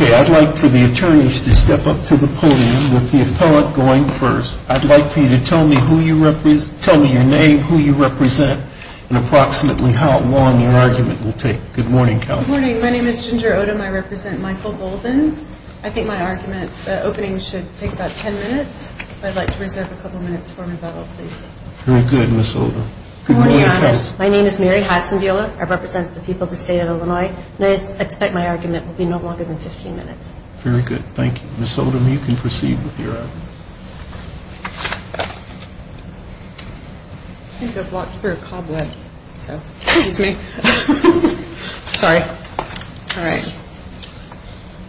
I'd like for the attorneys to step up to the podium with the appellate going first. I'd like for you to tell me who you represent, tell me your name, who you represent, and approximately how long your argument will take. Good morning, counsel. Good morning. My name is Ginger Odom. I represent Michael Bolden. I think my argument opening should take about 10 minutes. If I'd like to reserve a couple minutes for my battle, please. Very good, Ms. Odom. Good morning, Your Honor. My name is Mary Hadson-Viola. I represent the people of the state of Illinois, and I expect my argument will be no longer than 15 minutes. Very good. Thank you. Ms. Odom, you can proceed with your argument.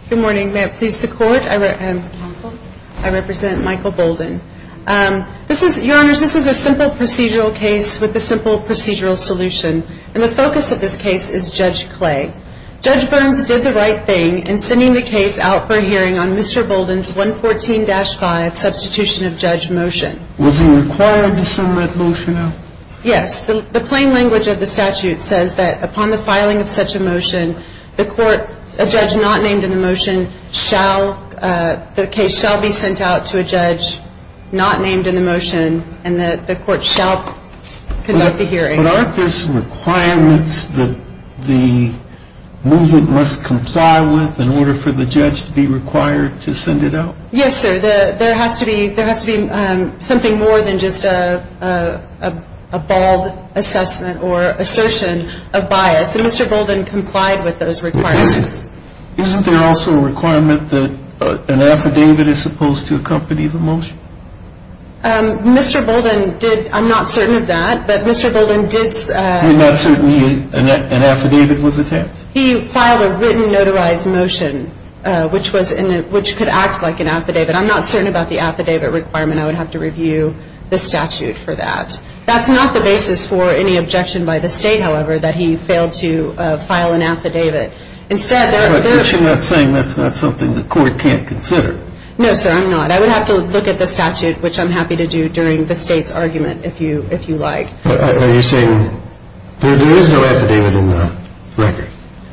Good morning. May it please the Court, I represent Michael Bolden. Your Honors, this is a simple procedural case with a simple procedural solution, and the focus of this case is Judge Clay. Judge Burns did the right thing in sending the case out for hearing on Mr. Bolden's 114-5 substitution of judge motion. Was he required to send that motion out? Yes. The plain language of the statute says that upon the filing of such a motion, the court, a judge not named in the motion, shall, the case shall be sent out to a judge not named in the motion, and the court shall conduct the hearing. But aren't there some requirements that the movement must comply with in order for the judge to be required to send it out? Yes, sir. There has to be something more than just a bald assessment or assertion of bias, and Mr. Bolden complied with those requirements. Isn't there also a requirement that an affidavit is supposed to accompany the motion? Mr. Bolden did. I'm not certain of that, but Mr. Bolden did. You're not certain an affidavit was attempted? He filed a written notarized motion, which could act like an affidavit. I'm not certain about the affidavit requirement. I would have to review the statute for that. That's not the basis for any objection by the State, however, that he failed to file an affidavit. But you're not saying that's not something the court can't consider? No, sir, I'm not. I would have to look at the statute, which I'm happy to do during the State's argument, if you like. Are you saying there is no affidavit in the record?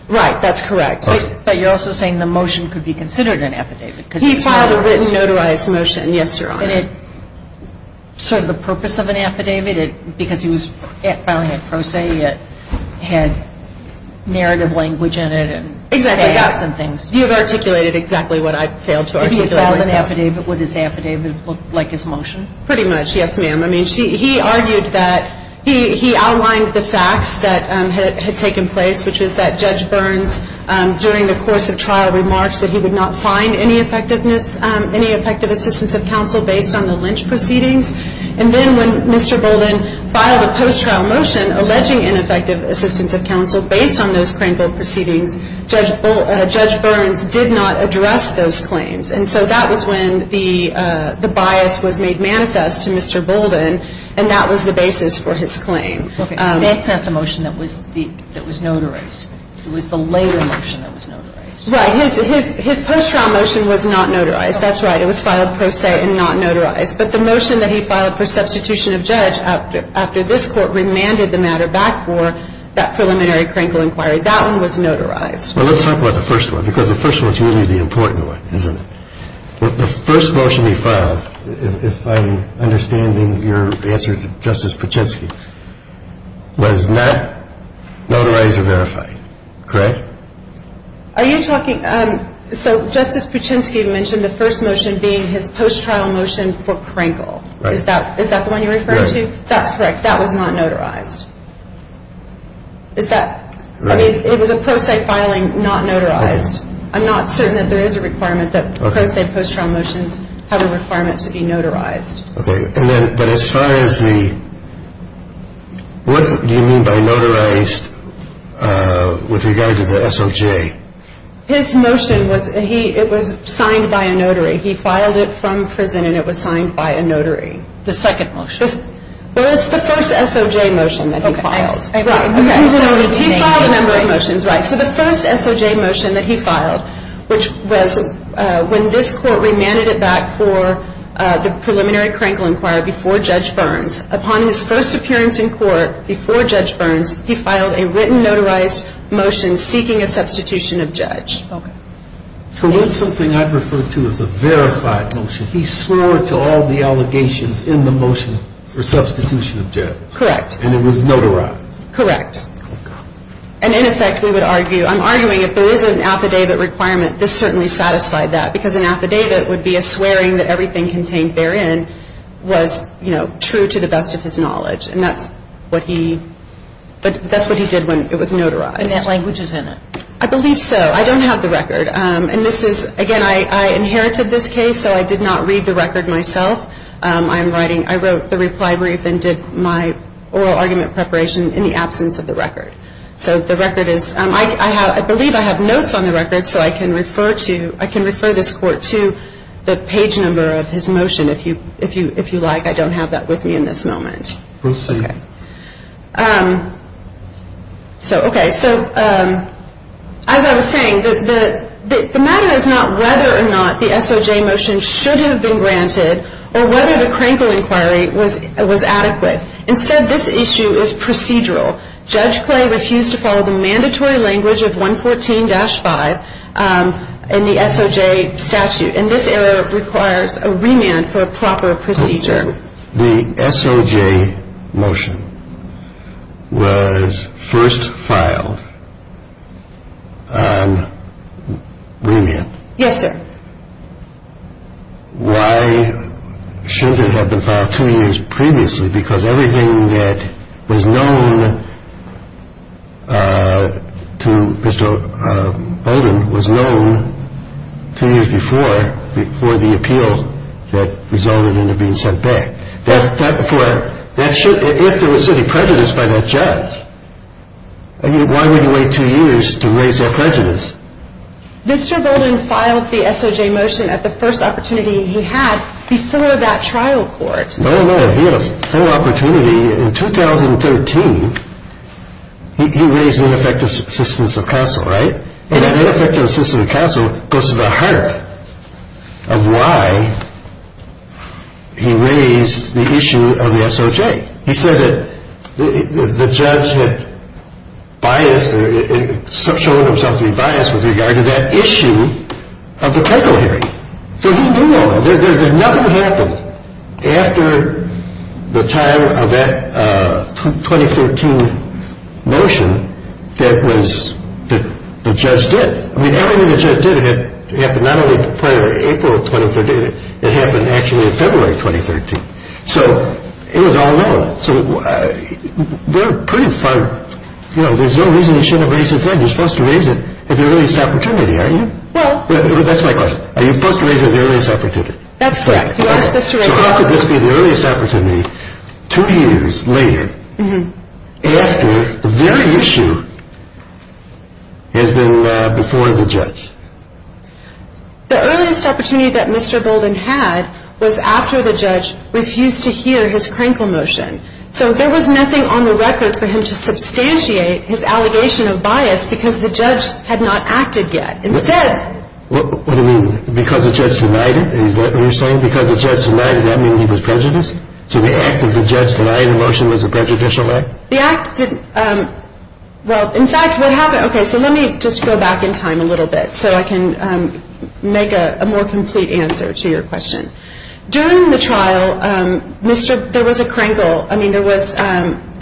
Right. That's correct. But you're also saying the motion could be considered an affidavit. He filed a written notarized motion, yes, Your Honor. And it sort of the purpose of an affidavit, because he was filing it pro se, it had narrative language in it. Exactly. You've articulated exactly what I've failed to articulate myself. Did he file an affidavit with his affidavit like his motion? Pretty much, yes, ma'am. I mean, he argued that he outlined the facts that had taken place, which is that Judge Burns, during the course of trial, remarked that he would not find any effectiveness, any effective assistance of counsel based on the Lynch proceedings. And then when Mr. Bolden filed a post-trial motion alleging ineffective assistance of counsel, based on those Craneville proceedings, Judge Burns did not address those claims. And so that was when the bias was made manifest to Mr. Bolden, and that was the basis for his claim. Okay. That's not the motion that was notarized. It was the later motion that was notarized. Right. His post-trial motion was not notarized. That's right. It was filed pro se and not notarized. But the motion that he filed for substitution of judge after this court remanded the matter back for that preliminary Craneville inquiry, that one was notarized. Well, let's talk about the first one, because the first one is really the important one, isn't it? The first motion he filed, if I'm understanding your answer to Justice Pachinski, was not notarized or verified. Correct? Are you talking – so Justice Pachinski mentioned the first motion being his post-trial motion for Craneville. Right. Is that the one you're referring to? Right. That's correct. That was not notarized. Is that – I mean, it was a pro se filing, not notarized. I'm not certain that there is a requirement that pro se post-trial motions have a requirement to be notarized. Okay. And then – but as far as the – what do you mean by notarized with regard to the SOJ? His motion was – it was signed by a notary. He filed it from prison and it was signed by a notary. The second motion. Well, it's the first SOJ motion that he filed. Okay. Right. Okay. So he filed a number of motions, right. So the first SOJ motion that he filed, which was when this court remanded it back for the preliminary Crankle inquiry before Judge Burns. Upon his first appearance in court before Judge Burns, he filed a written notarized motion seeking a substitution of judge. Okay. So that's something I'd refer to as a verified motion. He swore to all the allegations in the motion for substitution of judge. Correct. And it was notarized. Correct. And in effect, we would argue – I'm arguing if there is an affidavit requirement, this certainly satisfied that. Because an affidavit would be a swearing that everything contained therein was, you know, true to the best of his knowledge. And that's what he – that's what he did when it was notarized. And that language is in it. I believe so. I don't have the record. And this is – again, I inherited this case, so I did not read the record myself. I'm writing – I wrote the reply brief and did my oral argument preparation in the absence of the record. So the record is – I believe I have notes on the record, so I can refer to – I can refer this court to the page number of his motion if you like. I don't have that with me in this moment. We'll see. Okay. So, okay. So as I was saying, the matter is not whether or not the SOJ motion should have been granted or whether the Crankle inquiry was adequate. Instead, this issue is procedural. Judge Clay refused to follow the mandatory language of 114-5 in the SOJ statute. And this error requires a remand for a proper procedure. The SOJ motion was first filed on remand. Yes, sir. Why should it have been filed two years previously? Because everything that was known to Mr. Bolden was known two years before, before the appeal that resulted in it being sent back. If there was any prejudice by that judge, why would he wait two years to raise that prejudice? Mr. Bolden filed the SOJ motion at the first opportunity he had before that trial court. No, no. He had a full opportunity in 2013. He raised ineffective assistance of counsel, right? And that ineffective assistance of counsel goes to the heart of why he raised the issue of the SOJ. He said that the judge had biased or shown himself to be biased with regard to that issue of the Crankle hearing. So he knew all that. Nothing happened after the time of that 2013 motion that was the judge did. I mean, everything the judge did happened not only prior to April of 2013. It happened actually in February of 2013. So it was all known. So we're pretty far, you know, there's no reason he shouldn't have raised it then. You're supposed to raise it at the earliest opportunity, aren't you? Well, that's my question. Are you supposed to raise it at the earliest opportunity? That's correct. You are supposed to raise it at the earliest opportunity. So how could this be the earliest opportunity two years later after the very issue has been before the judge? The earliest opportunity that Mr. Bolden had was after the judge refused to hear his Crankle motion. So there was nothing on the record for him to substantiate his allegation of bias because the judge had not acted yet. What do you mean? Because the judge denied it? Is that what you're saying? Because the judge denied it, does that mean he was prejudiced? So the act of the judge denying the motion was a prejudicial act? The act didn't – well, in fact, what happened – okay, so let me just go back in time a little bit so I can make a more complete answer to your question. During the trial, there was a Crankle – I mean, there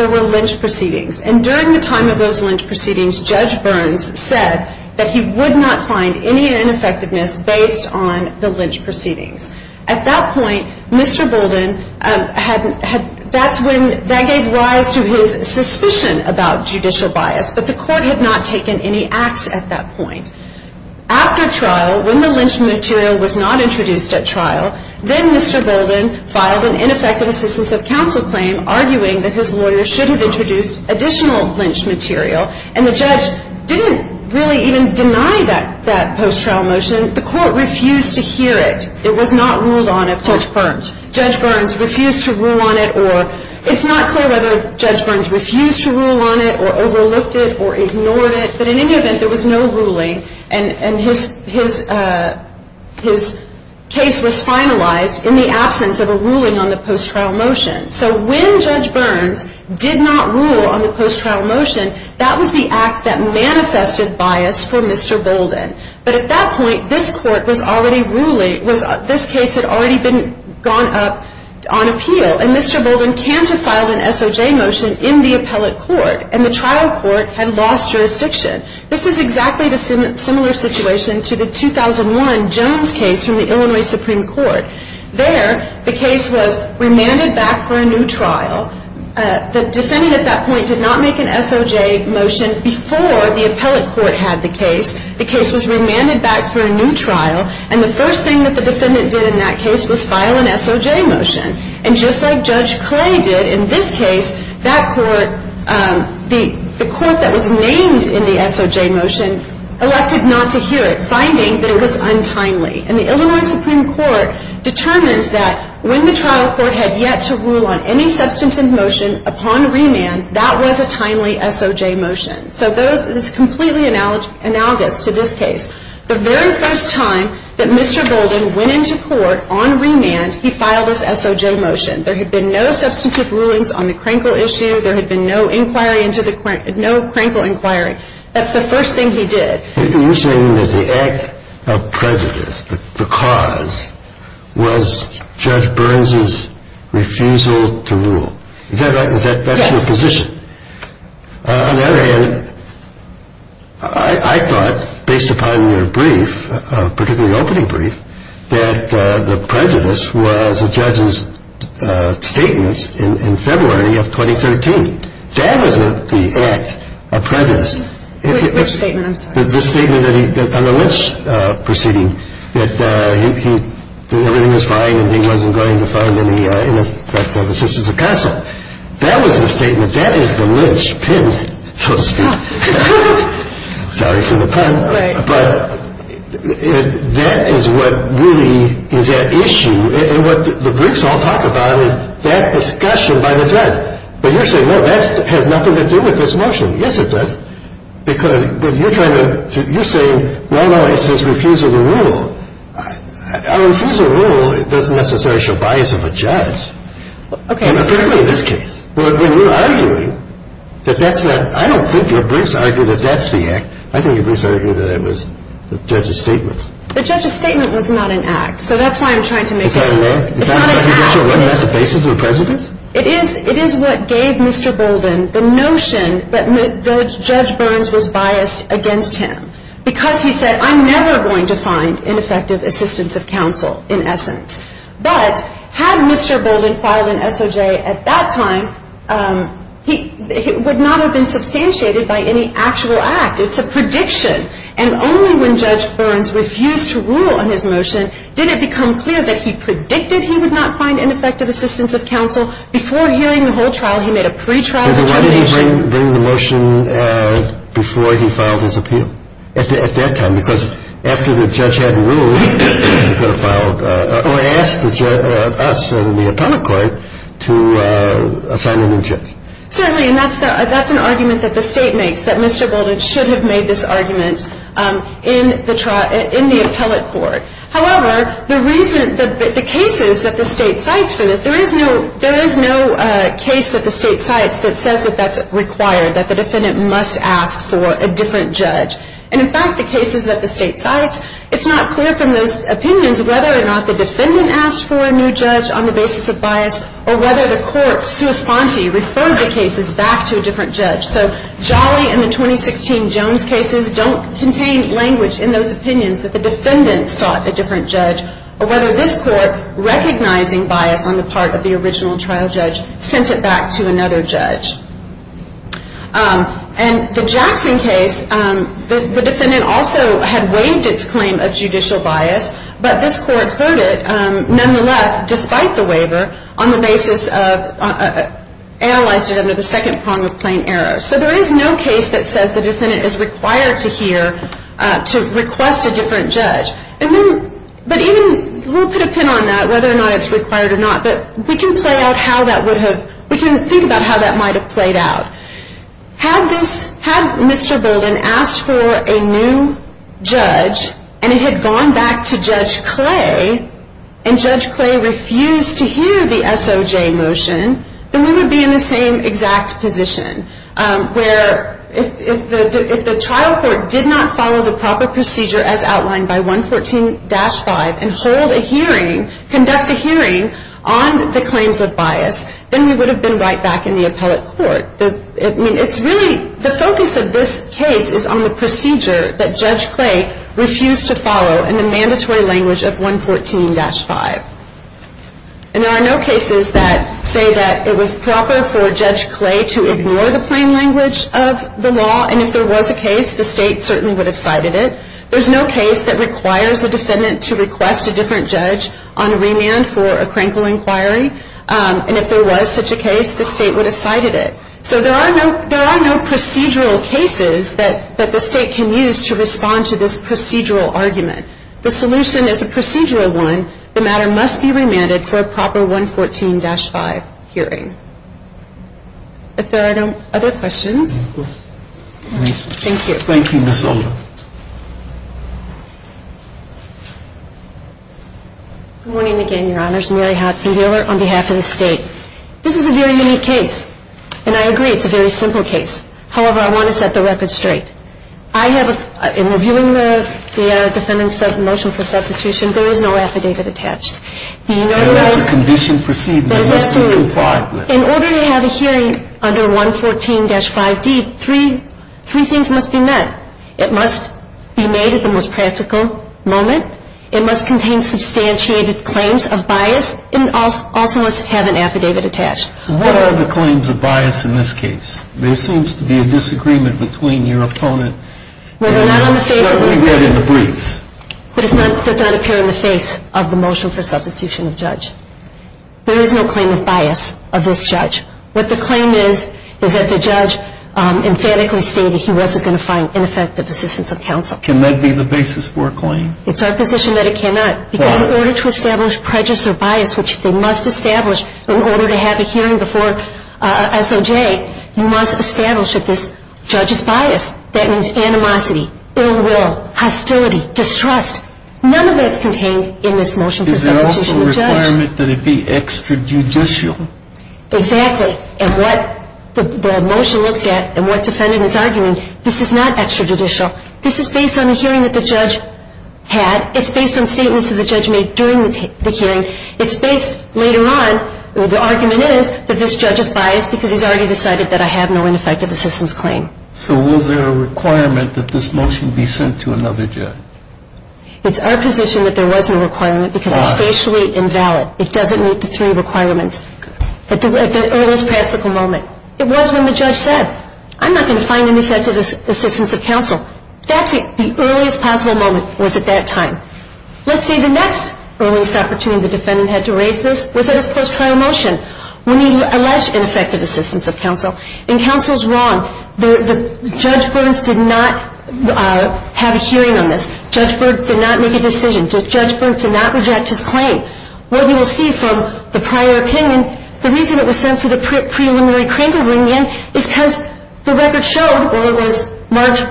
were lynch proceedings. And during the time of those lynch proceedings, Judge Burns said that he would not find any ineffectiveness based on the lynch proceedings. At that point, Mr. Bolden had – that's when – that gave rise to his suspicion about judicial bias, but the court had not taken any acts at that point. After trial, when the lynch material was not introduced at trial, then Mr. Bolden filed an ineffective assistance of counsel claim, arguing that his lawyer should have introduced additional lynch material. And the judge didn't really even deny that post-trial motion. The court refused to hear it. It was not ruled on at court. Judge Burns. Judge Burns refused to rule on it or – it's not clear whether Judge Burns refused to rule on it or overlooked it or ignored it. But in any event, there was no ruling, and his case was finalized in the absence of a ruling on the post-trial motion. So when Judge Burns did not rule on the post-trial motion, that was the act that manifested bias for Mr. Bolden. But at that point, this court was already ruling – this case had already been gone up on appeal. And Mr. Bolden can't have filed an SOJ motion in the appellate court. And the trial court had lost jurisdiction. This is exactly the similar situation to the 2001 Jones case from the Illinois Supreme Court. There, the case was remanded back for a new trial. The defendant at that point did not make an SOJ motion before the appellate court had the case. The case was remanded back for a new trial. And the first thing that the defendant did in that case was file an SOJ motion. And just like Judge Clay did in this case, that court – the court that was named in the SOJ motion elected not to hear it, finding that it was untimely. And the Illinois Supreme Court determined that when the trial court had yet to rule on any substantive motion upon remand, that was a timely SOJ motion. So those – it's completely analogous to this case. The very first time that Mr. Bolden went into court on remand, he filed his SOJ motion. There had been no substantive rulings on the Krenkel issue. There had been no inquiry into the – no Krenkel inquiry. That's the first thing he did. You're saying that the act of prejudice, the cause, was Judge Burns' refusal to rule. Is that right? Is that – that's your position? Yes. On the other hand, I thought, based upon your brief, particularly the opening brief, that the prejudice was a judge's statement in February of 2013. That was the act of prejudice. Which statement? I'm sorry. The statement that he – on the Lynch proceeding, that he – that everything was fine and he wasn't going to find any ineffective assistance of consent. That was the statement. That is the Lynch pin, so to speak. Sorry for the pun. Right. But that is what really is at issue. And what the briefs all talk about is that discussion by the judge. But you're saying, no, that has nothing to do with this motion. Yes, it does. Because you're trying to – you're saying, no, no, it's his refusal to rule. A refusal to rule doesn't necessarily show bias of a judge. Okay. Apparently in this case. But when you're arguing that that's the – I don't think your briefs argue that that's the act. I think your briefs argue that it was the judge's statement. The judge's statement was not an act. So that's why I'm trying to make sure. It's not an act? It's not an act. Are you sure that's not the basis of a prejudice? It is. It is what gave Mr. Bolden the notion that Judge Burns was biased against him. Because he said, I'm never going to find ineffective assistance of counsel, in essence. But had Mr. Bolden filed an SOJ at that time, he would not have been substantiated by any actual act. It's a prediction. And only when Judge Burns refused to rule on his motion did it become clear that he predicted he would not find ineffective assistance of counsel. Before hearing the whole trial, he made a pretrial determination. Did he bring the motion before he filed his appeal at that time? Because after the judge had ruled, he could have filed – or asked us in the appellate court to assign a new judge. Certainly. And that's an argument that the state makes, that Mr. Bolden should have made this argument in the appellate court. However, the reason – the cases that the state cites for this, there is no case that the state cites that says that that's required, that the defendant must ask for a different judge. And in fact, the cases that the state cites, it's not clear from those opinions whether or not the defendant asked for a new judge on the basis of bias or whether the court, sua sponte, referred the cases back to a different judge. So Jolly and the 2016 Jones cases don't contain language in those opinions that the defendant sought a different judge or whether this court, recognizing bias on the part of the original trial judge, sent it back to another judge. And the Jackson case, the defendant also had waived its claim of judicial bias, but this court heard it nonetheless, despite the waiver, on the basis of – analyzed it under the second prong of plain error. So there is no case that says the defendant is required to hear to request a different judge. And then – but even – we'll put a pin on that, whether or not it's required or not, but we can play out how that would have – we can think about how that might have played out. Had this – had Mr. Bolden asked for a new judge and it had gone back to Judge Clay and Judge Clay refused to hear the SOJ motion, then we would be in the same exact position, where if the trial court did not follow the proper procedure as outlined by 114-5 and hold a hearing – conduct a hearing on the claims of bias, then we would have been right back in the appellate court. I mean, it's really – the focus of this case is on the procedure that Judge Clay refused to follow in the mandatory language of 114-5. And there are no cases that say that it was proper for Judge Clay to ignore the plain language of the law. And if there was a case, the state certainly would have cited it. There's no case that requires a defendant to request a different judge on remand for a crankle inquiry. And if there was such a case, the state would have cited it. So there are no procedural cases that the state can use to respond to this procedural argument. The solution is a procedural one. The matter must be remanded for a proper 114-5 hearing. If there are no other questions. Thank you. Thank you, Ms. Alder. Good morning again, Your Honors. Mary Hudson here on behalf of the state. This is a very unique case. And I agree, it's a very simple case. However, I want to set the record straight. I have – in reviewing the defendant's motion for substitution, there is no affidavit attached. Do you know why? Well, that's a condition proceeding. It must be implied. In order to have a hearing under 114-5D, three things must be met. It must be made at the most practical moment. It must contain substantiated claims of bias. And it also must have an affidavit attached. What are the claims of bias in this case? There seems to be a disagreement between your opponent. Well, they're not on the face of the – We're not going to get into briefs. But it's not – it does not appear on the face of the motion for substitution of judge. There is no claim of bias of this judge. What the claim is, is that the judge emphatically stated he wasn't going to find ineffective assistance of counsel. Can that be the basis for a claim? It's our position that it cannot. Why? Because in order to establish prejudice or bias, which they must establish in order to have a hearing before SOJ, you must establish that this judge is biased. That means animosity, ill will, hostility, distrust. None of that's contained in this motion for substitution of judge. Is there also a requirement that it be extrajudicial? Exactly. And what the motion looks at and what defendant is arguing, this is not extrajudicial. This is based on a hearing that the judge had. It's based on statements that the judge made during the hearing. It's based – later on, the argument is that this judge is biased because he's already decided that I have no ineffective assistance claim. So was there a requirement that this motion be sent to another judge? It's our position that there was no requirement because it's facially invalid. It doesn't meet the three requirements. It's our position that there was no requirement. It was when the judge said, I'm not going to find ineffective assistance of counsel. That's the earliest possible moment was at that time. Let's say the next earliest opportunity the defendant had to raise this was at his post-trial motion when he alleged ineffective assistance of counsel. And counsel's wrong. Judge Burns did not have a hearing on this. Judge Burns did not make a decision. Judge Burns did not reject his claim. What you will see from the prior opinion, the reason it was sent to the preliminary Kringle reunion is because the record showed or it was marked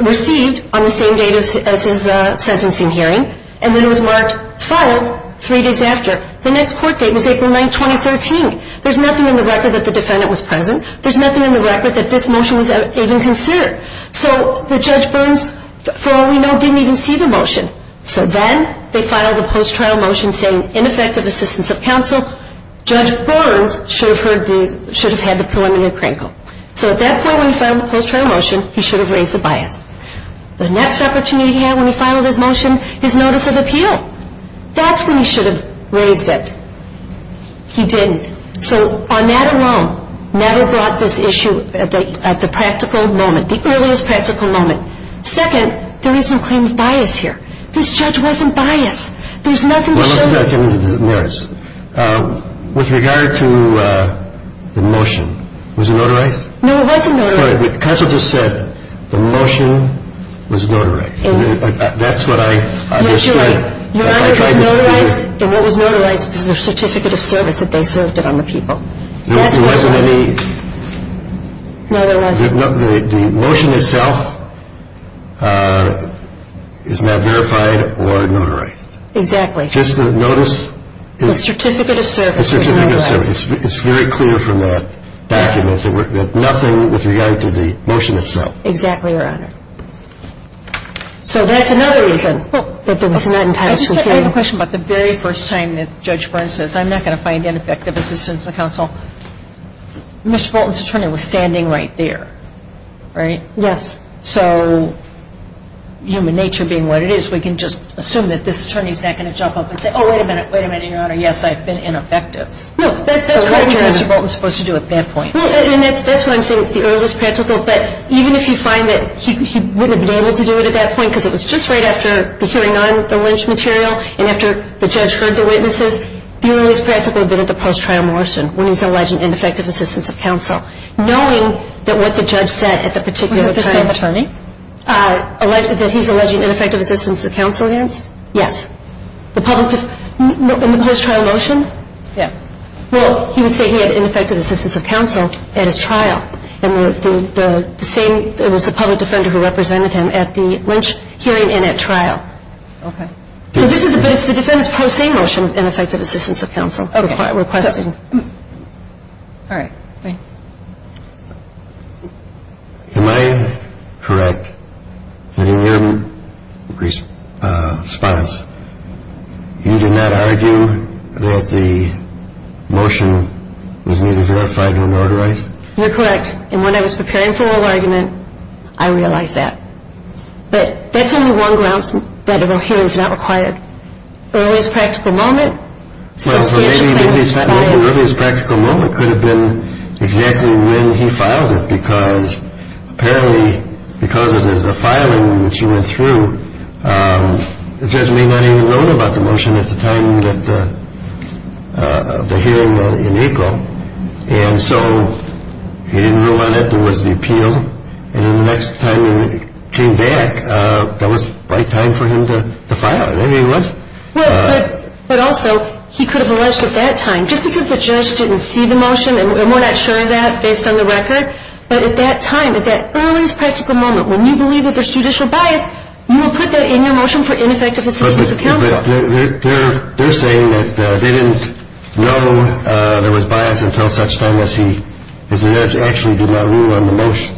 received on the same date as his sentencing hearing, and then it was marked filed three days after. The next court date was April 9, 2013. There's nothing in the record that the defendant was present. There's nothing in the record that this motion was even considered. So the Judge Burns, for all we know, didn't even see the motion. So then they filed a post-trial motion saying ineffective assistance of counsel. Judge Burns should have had the preliminary Kringle. So at that point when he filed the post-trial motion, he should have raised the bias. The next opportunity he had when he filed his motion is notice of appeal. That's when he should have raised it. He didn't. So Arnett alone never brought this issue at the practical moment, the earliest practical moment. Second, there is no claim of bias here. This judge wasn't biased. There's nothing to show you. Well, let's get back into the merits. With regard to the motion, was it notarized? No, it wasn't notarized. But counsel just said the motion was notarized. That's what I just said. Yes, you're right. Your honor, it was notarized, and what was notarized was the certificate of service that they served it on the people. There wasn't any. No, there wasn't. The motion itself is not verified or notarized. Exactly. Just notice. The certificate of service was notarized. The certificate of service. It's very clear from that document that nothing with regard to the motion itself. Exactly, your honor. So that's another reason. I have a question about the very first time that Judge Burns says, I'm not going to find ineffective assistance of counsel. Mr. Bolton's attorney was standing right there, right? Yes. So human nature being what it is, we can just assume that this attorney is not going to jump up and say, oh, wait a minute, wait a minute, your honor, yes, I've been ineffective. No, that's correct, your honor. So what was Mr. Bolton supposed to do at that point? Well, and that's why I'm saying it's the earliest practical. But even if you find that he wouldn't have been able to do it at that point because it was just right after the hearing on the lynch material and after the judge heard the witnesses, the earliest practical would have been at the post-trial motion when he's alleging ineffective assistance of counsel. Knowing that what the judge said at the particular time. Was it the same attorney? That he's alleging ineffective assistance of counsel against? Yes. In the post-trial motion? Yeah. Well, he would say he had ineffective assistance of counsel at his trial. And the same, it was the public defender who represented him at the lynch hearing and at trial. Okay. But it's the defendant's post-trial motion, ineffective assistance of counsel. Okay. Requesting. All right, thanks. Am I correct that in your response, you did not argue that the motion was neither verified nor motorized? You're correct. And when I was preparing for oral argument, I realized that. But that's only one grounds that oral hearing is not required. Earliest practical moment. Well, so maybe the earliest practical moment could have been exactly when he filed it because apparently because of the filing that you went through, the judge may not even have known about the motion at the time of the hearing in April. And so he didn't rule on it. There was the appeal. And then the next time he came back, that was the right time for him to file it. There he was. But also, he could have alleged at that time, just because the judge didn't see the motion and we're not sure of that based on the record, but at that time, at that earliest practical moment, when you believe that there's judicial bias, you will put that in your motion for ineffective assistance of counsel. They're saying that they didn't know there was bias until such time as he, because the judge actually did not rule on the motion.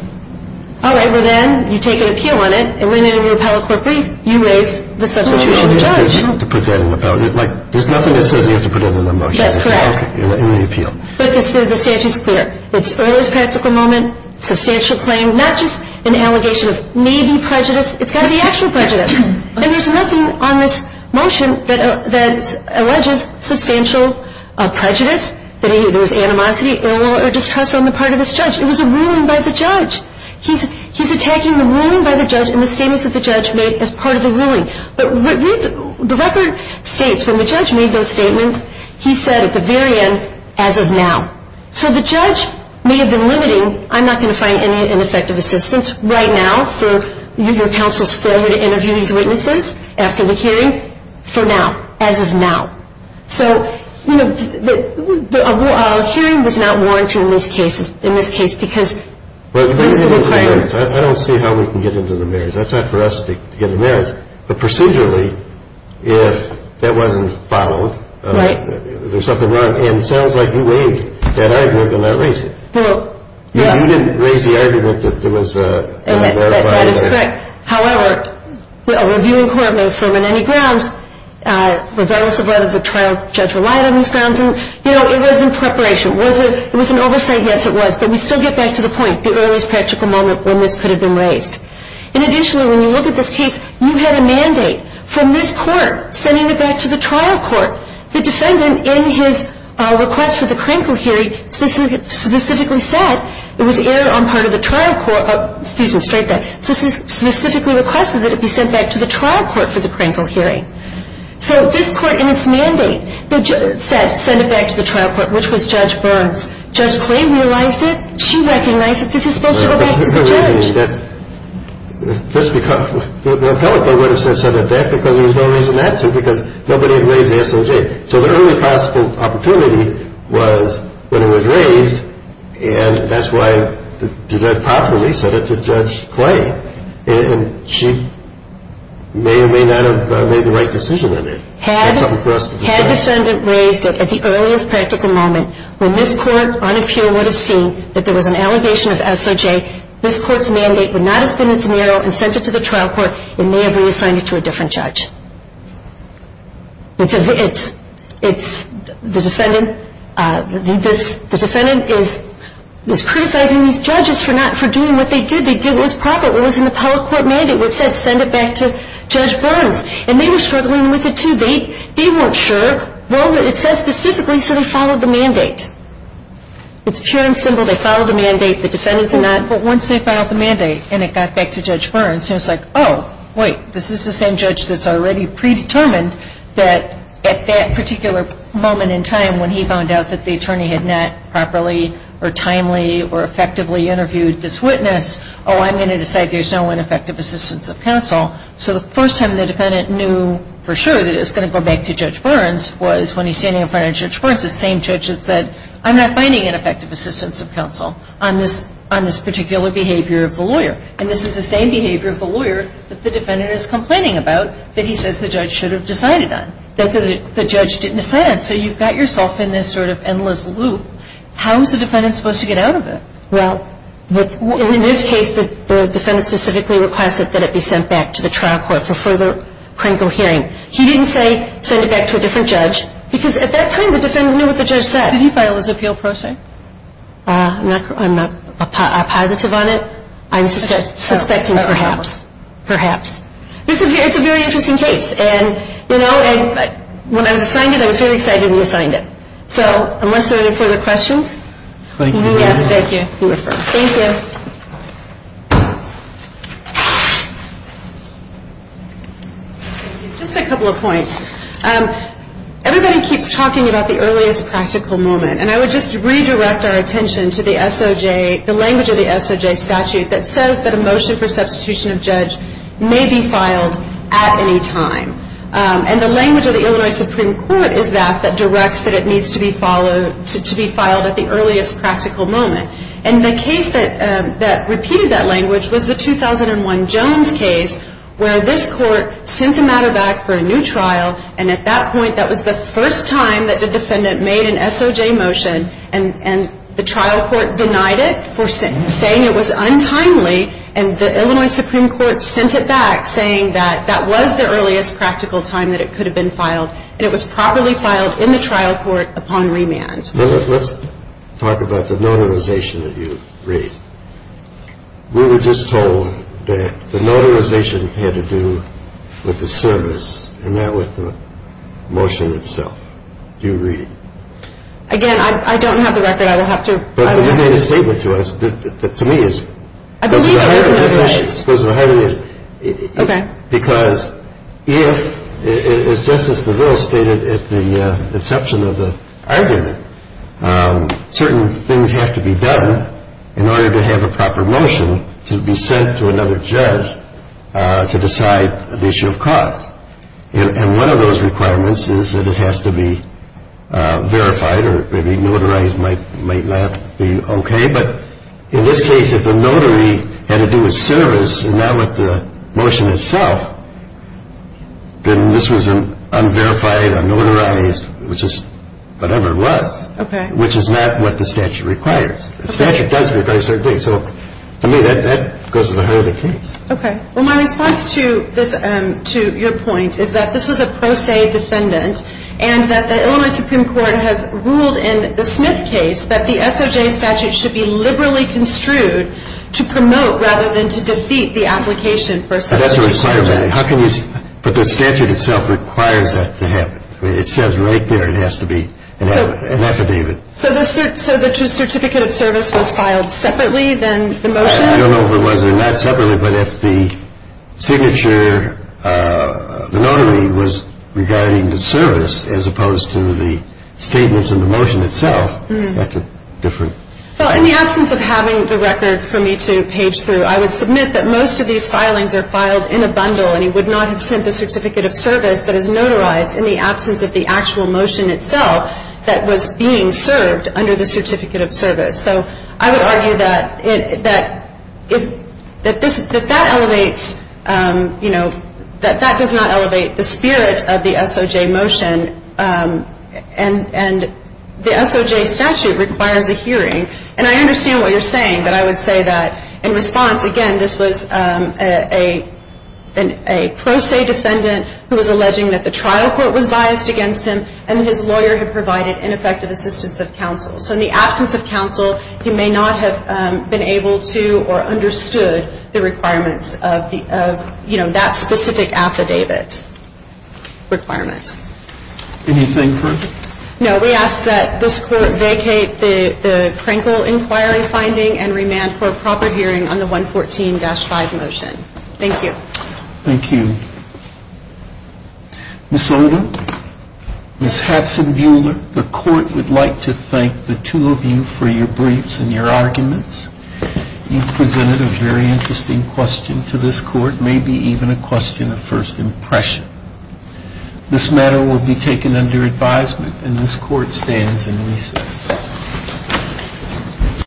All right. Well, then you take an appeal on it, and when they didn't repeal it quickly, you raise the substitution of the judge. There's nothing that says you have to put that in the motion. That's correct. In the appeal. But the statute's clear. It's earliest practical moment, substantial claim, not just an allegation of maybe prejudice. It's got to be actual prejudice. And there's nothing on this motion that alleges substantial prejudice, that there was animosity, ill will, or distrust on the part of this judge. It was a ruling by the judge. He's attacking the ruling by the judge and the statements that the judge made as part of the ruling. But the record states when the judge made those statements, he said at the very end, as of now. So the judge may have been limiting, I'm not going to find any ineffective assistance right now for your counsel's failure to interview these witnesses after the hearing, for now, as of now. So, you know, the hearing was not warranted in this case because. I don't see how we can get into the merits. That's not for us to get into the merits. But procedurally, if that wasn't followed. Right. There's something wrong. And it sounds like you waived that argument and not raised it. Well, yeah. You didn't raise the argument that there was a. That is correct. However, a reviewing court may affirm on any grounds, regardless of whether the trial judge relied on these grounds. And, you know, it was in preparation. Was it, it was an oversight? Yes, it was. But we still get back to the point, the earliest practical moment when this could have been raised. And additionally, when you look at this case, you had a mandate from this court sending it back to the trial court. The defendant, in his request for the Krankel hearing, specifically said it was aired on part of the trial court. So this is specifically requested that it be sent back to the trial court for the Krankel hearing. So this court, in its mandate, said send it back to the trial court, which was Judge Burns. Judge Clay realized it. She recognized that this is supposed to go back to the judge. Well, there's no reason that this. The appellate court would have said send it back because there was no reason not to because nobody had raised the SOJ. So the earliest possible opportunity was when it was raised. And that's why the defendant properly said it to Judge Clay. And she may or may not have made the right decision in it. Had defendant raised it at the earliest practical moment, when this court on appeal would have seen that there was an allegation of SOJ, this court's mandate would not have been as narrow and sent it to the trial court. It may have reassigned it to a different judge. The defendant is criticizing these judges for doing what they did. They did what was proper. It was in the appellate court mandate where it said send it back to Judge Burns. And they were struggling with it, too. They weren't sure. Well, it says specifically so they followed the mandate. It's pure and simple. They followed the mandate. The defendants did not. But once they filed the mandate and it got back to Judge Burns, he was like, oh, wait. This is the same judge that's already predetermined that at that particular moment in time when he found out that the attorney had not properly or timely or effectively interviewed this witness, oh, I'm going to decide there's no ineffective assistance of counsel. So the first time the defendant knew for sure that it was going to go back to Judge Burns was when he's standing in front of Judge Burns, the same judge that said, I'm not finding an effective assistance of counsel on this particular behavior of the lawyer. And this is the same behavior of the lawyer that the defendant is complaining about that he says the judge should have decided on, that the judge didn't decide on. So you've got yourself in this sort of endless loop. How is the defendant supposed to get out of it? Well, in this case, the defendant specifically requested that it be sent back to the trial court for further critical hearing. He didn't say send it back to a different judge because at that time the defendant knew what the judge said. Did he file his appeal pro se? I'm not positive on it. I'm suspecting perhaps. Perhaps. It's a very interesting case. And, you know, when I was assigned it, I was very excited when he assigned it. So unless there are any further questions. Thank you. Yes, thank you. You're welcome. Thank you. Just a couple of points. Everybody keeps talking about the earliest practical moment. And I would just redirect our attention to the SOJ, the language of the SOJ statute, that says that a motion for substitution of judge may be filed at any time. And the language of the Illinois Supreme Court is that, that directs that it needs to be followed, to be filed at the earliest practical moment. And the case that repeated that language was the 2001 Jones case where this court sent the matter back for a new trial, and at that point that was the first time that the defendant made an SOJ motion, and the trial court denied it for saying it was untimely, and the Illinois Supreme Court sent it back saying that that was the earliest practical time that it could have been filed, and it was properly filed in the trial court upon remand. Let's talk about the notarization that you read. We were just told that the notarization had to do with the service and not with the motion itself. Do you read it? Again, I don't have the record. I will have to. But you made a statement to us that to me is. I believe it was in the case. Because if, as Justice DeVille stated at the inception of the argument, certain things have to be done in order to have a proper motion to be sent to another judge to decide the issue of cause. And one of those requirements is that it has to be verified or maybe notarized might not be OK. But in this case, if the notary had to do with service and not with the motion itself, then this was an unverified, unnotarized, which is whatever it was, which is not what the statute requires. The statute does require certain things. So, I mean, that goes to the heart of the case. OK. Well, my response to your point is that this was a pro se defendant and that the Illinois Supreme Court has ruled in the Smith case that the SOJ statute should be liberally construed to promote rather than to defeat the application for substitution. That's a requirement. But the statute itself requires that to happen. It says right there it has to be an affidavit. So the certificate of service was filed separately than the motion? I don't know if it was or not separately, but if the signature, the notary was regarding the service as opposed to the statements and the motion itself, that's a different. Well, in the absence of having the record for me to page through, I would submit that most of these filings are filed in a bundle and he would not have sent the certificate of service that is notarized in the absence of the actual motion itself that was being served under the certificate of service. So I would argue that that elevates, you know, that that does not elevate the spirit of the SOJ motion and the SOJ statute requires a hearing. And I understand what you're saying, but I would say that in response, again, this was a pro se defendant who was alleging that the trial court was biased against him and his lawyer had provided ineffective assistance of counsel. So in the absence of counsel, he may not have been able to or understood the requirements of, you know, that specific affidavit requirement. Anything further? No, we ask that this court vacate the Krenkel inquiry finding and remand for a proper hearing on the 114-5 motion. Thank you. Thank you. Ms. Oldham, Ms. Hadson-Buehler, the court would like to thank the two of you for your briefs and your arguments. You've presented a very interesting question to this court, maybe even a question of first impression. This matter will be taken under advisement and this court stands in recess.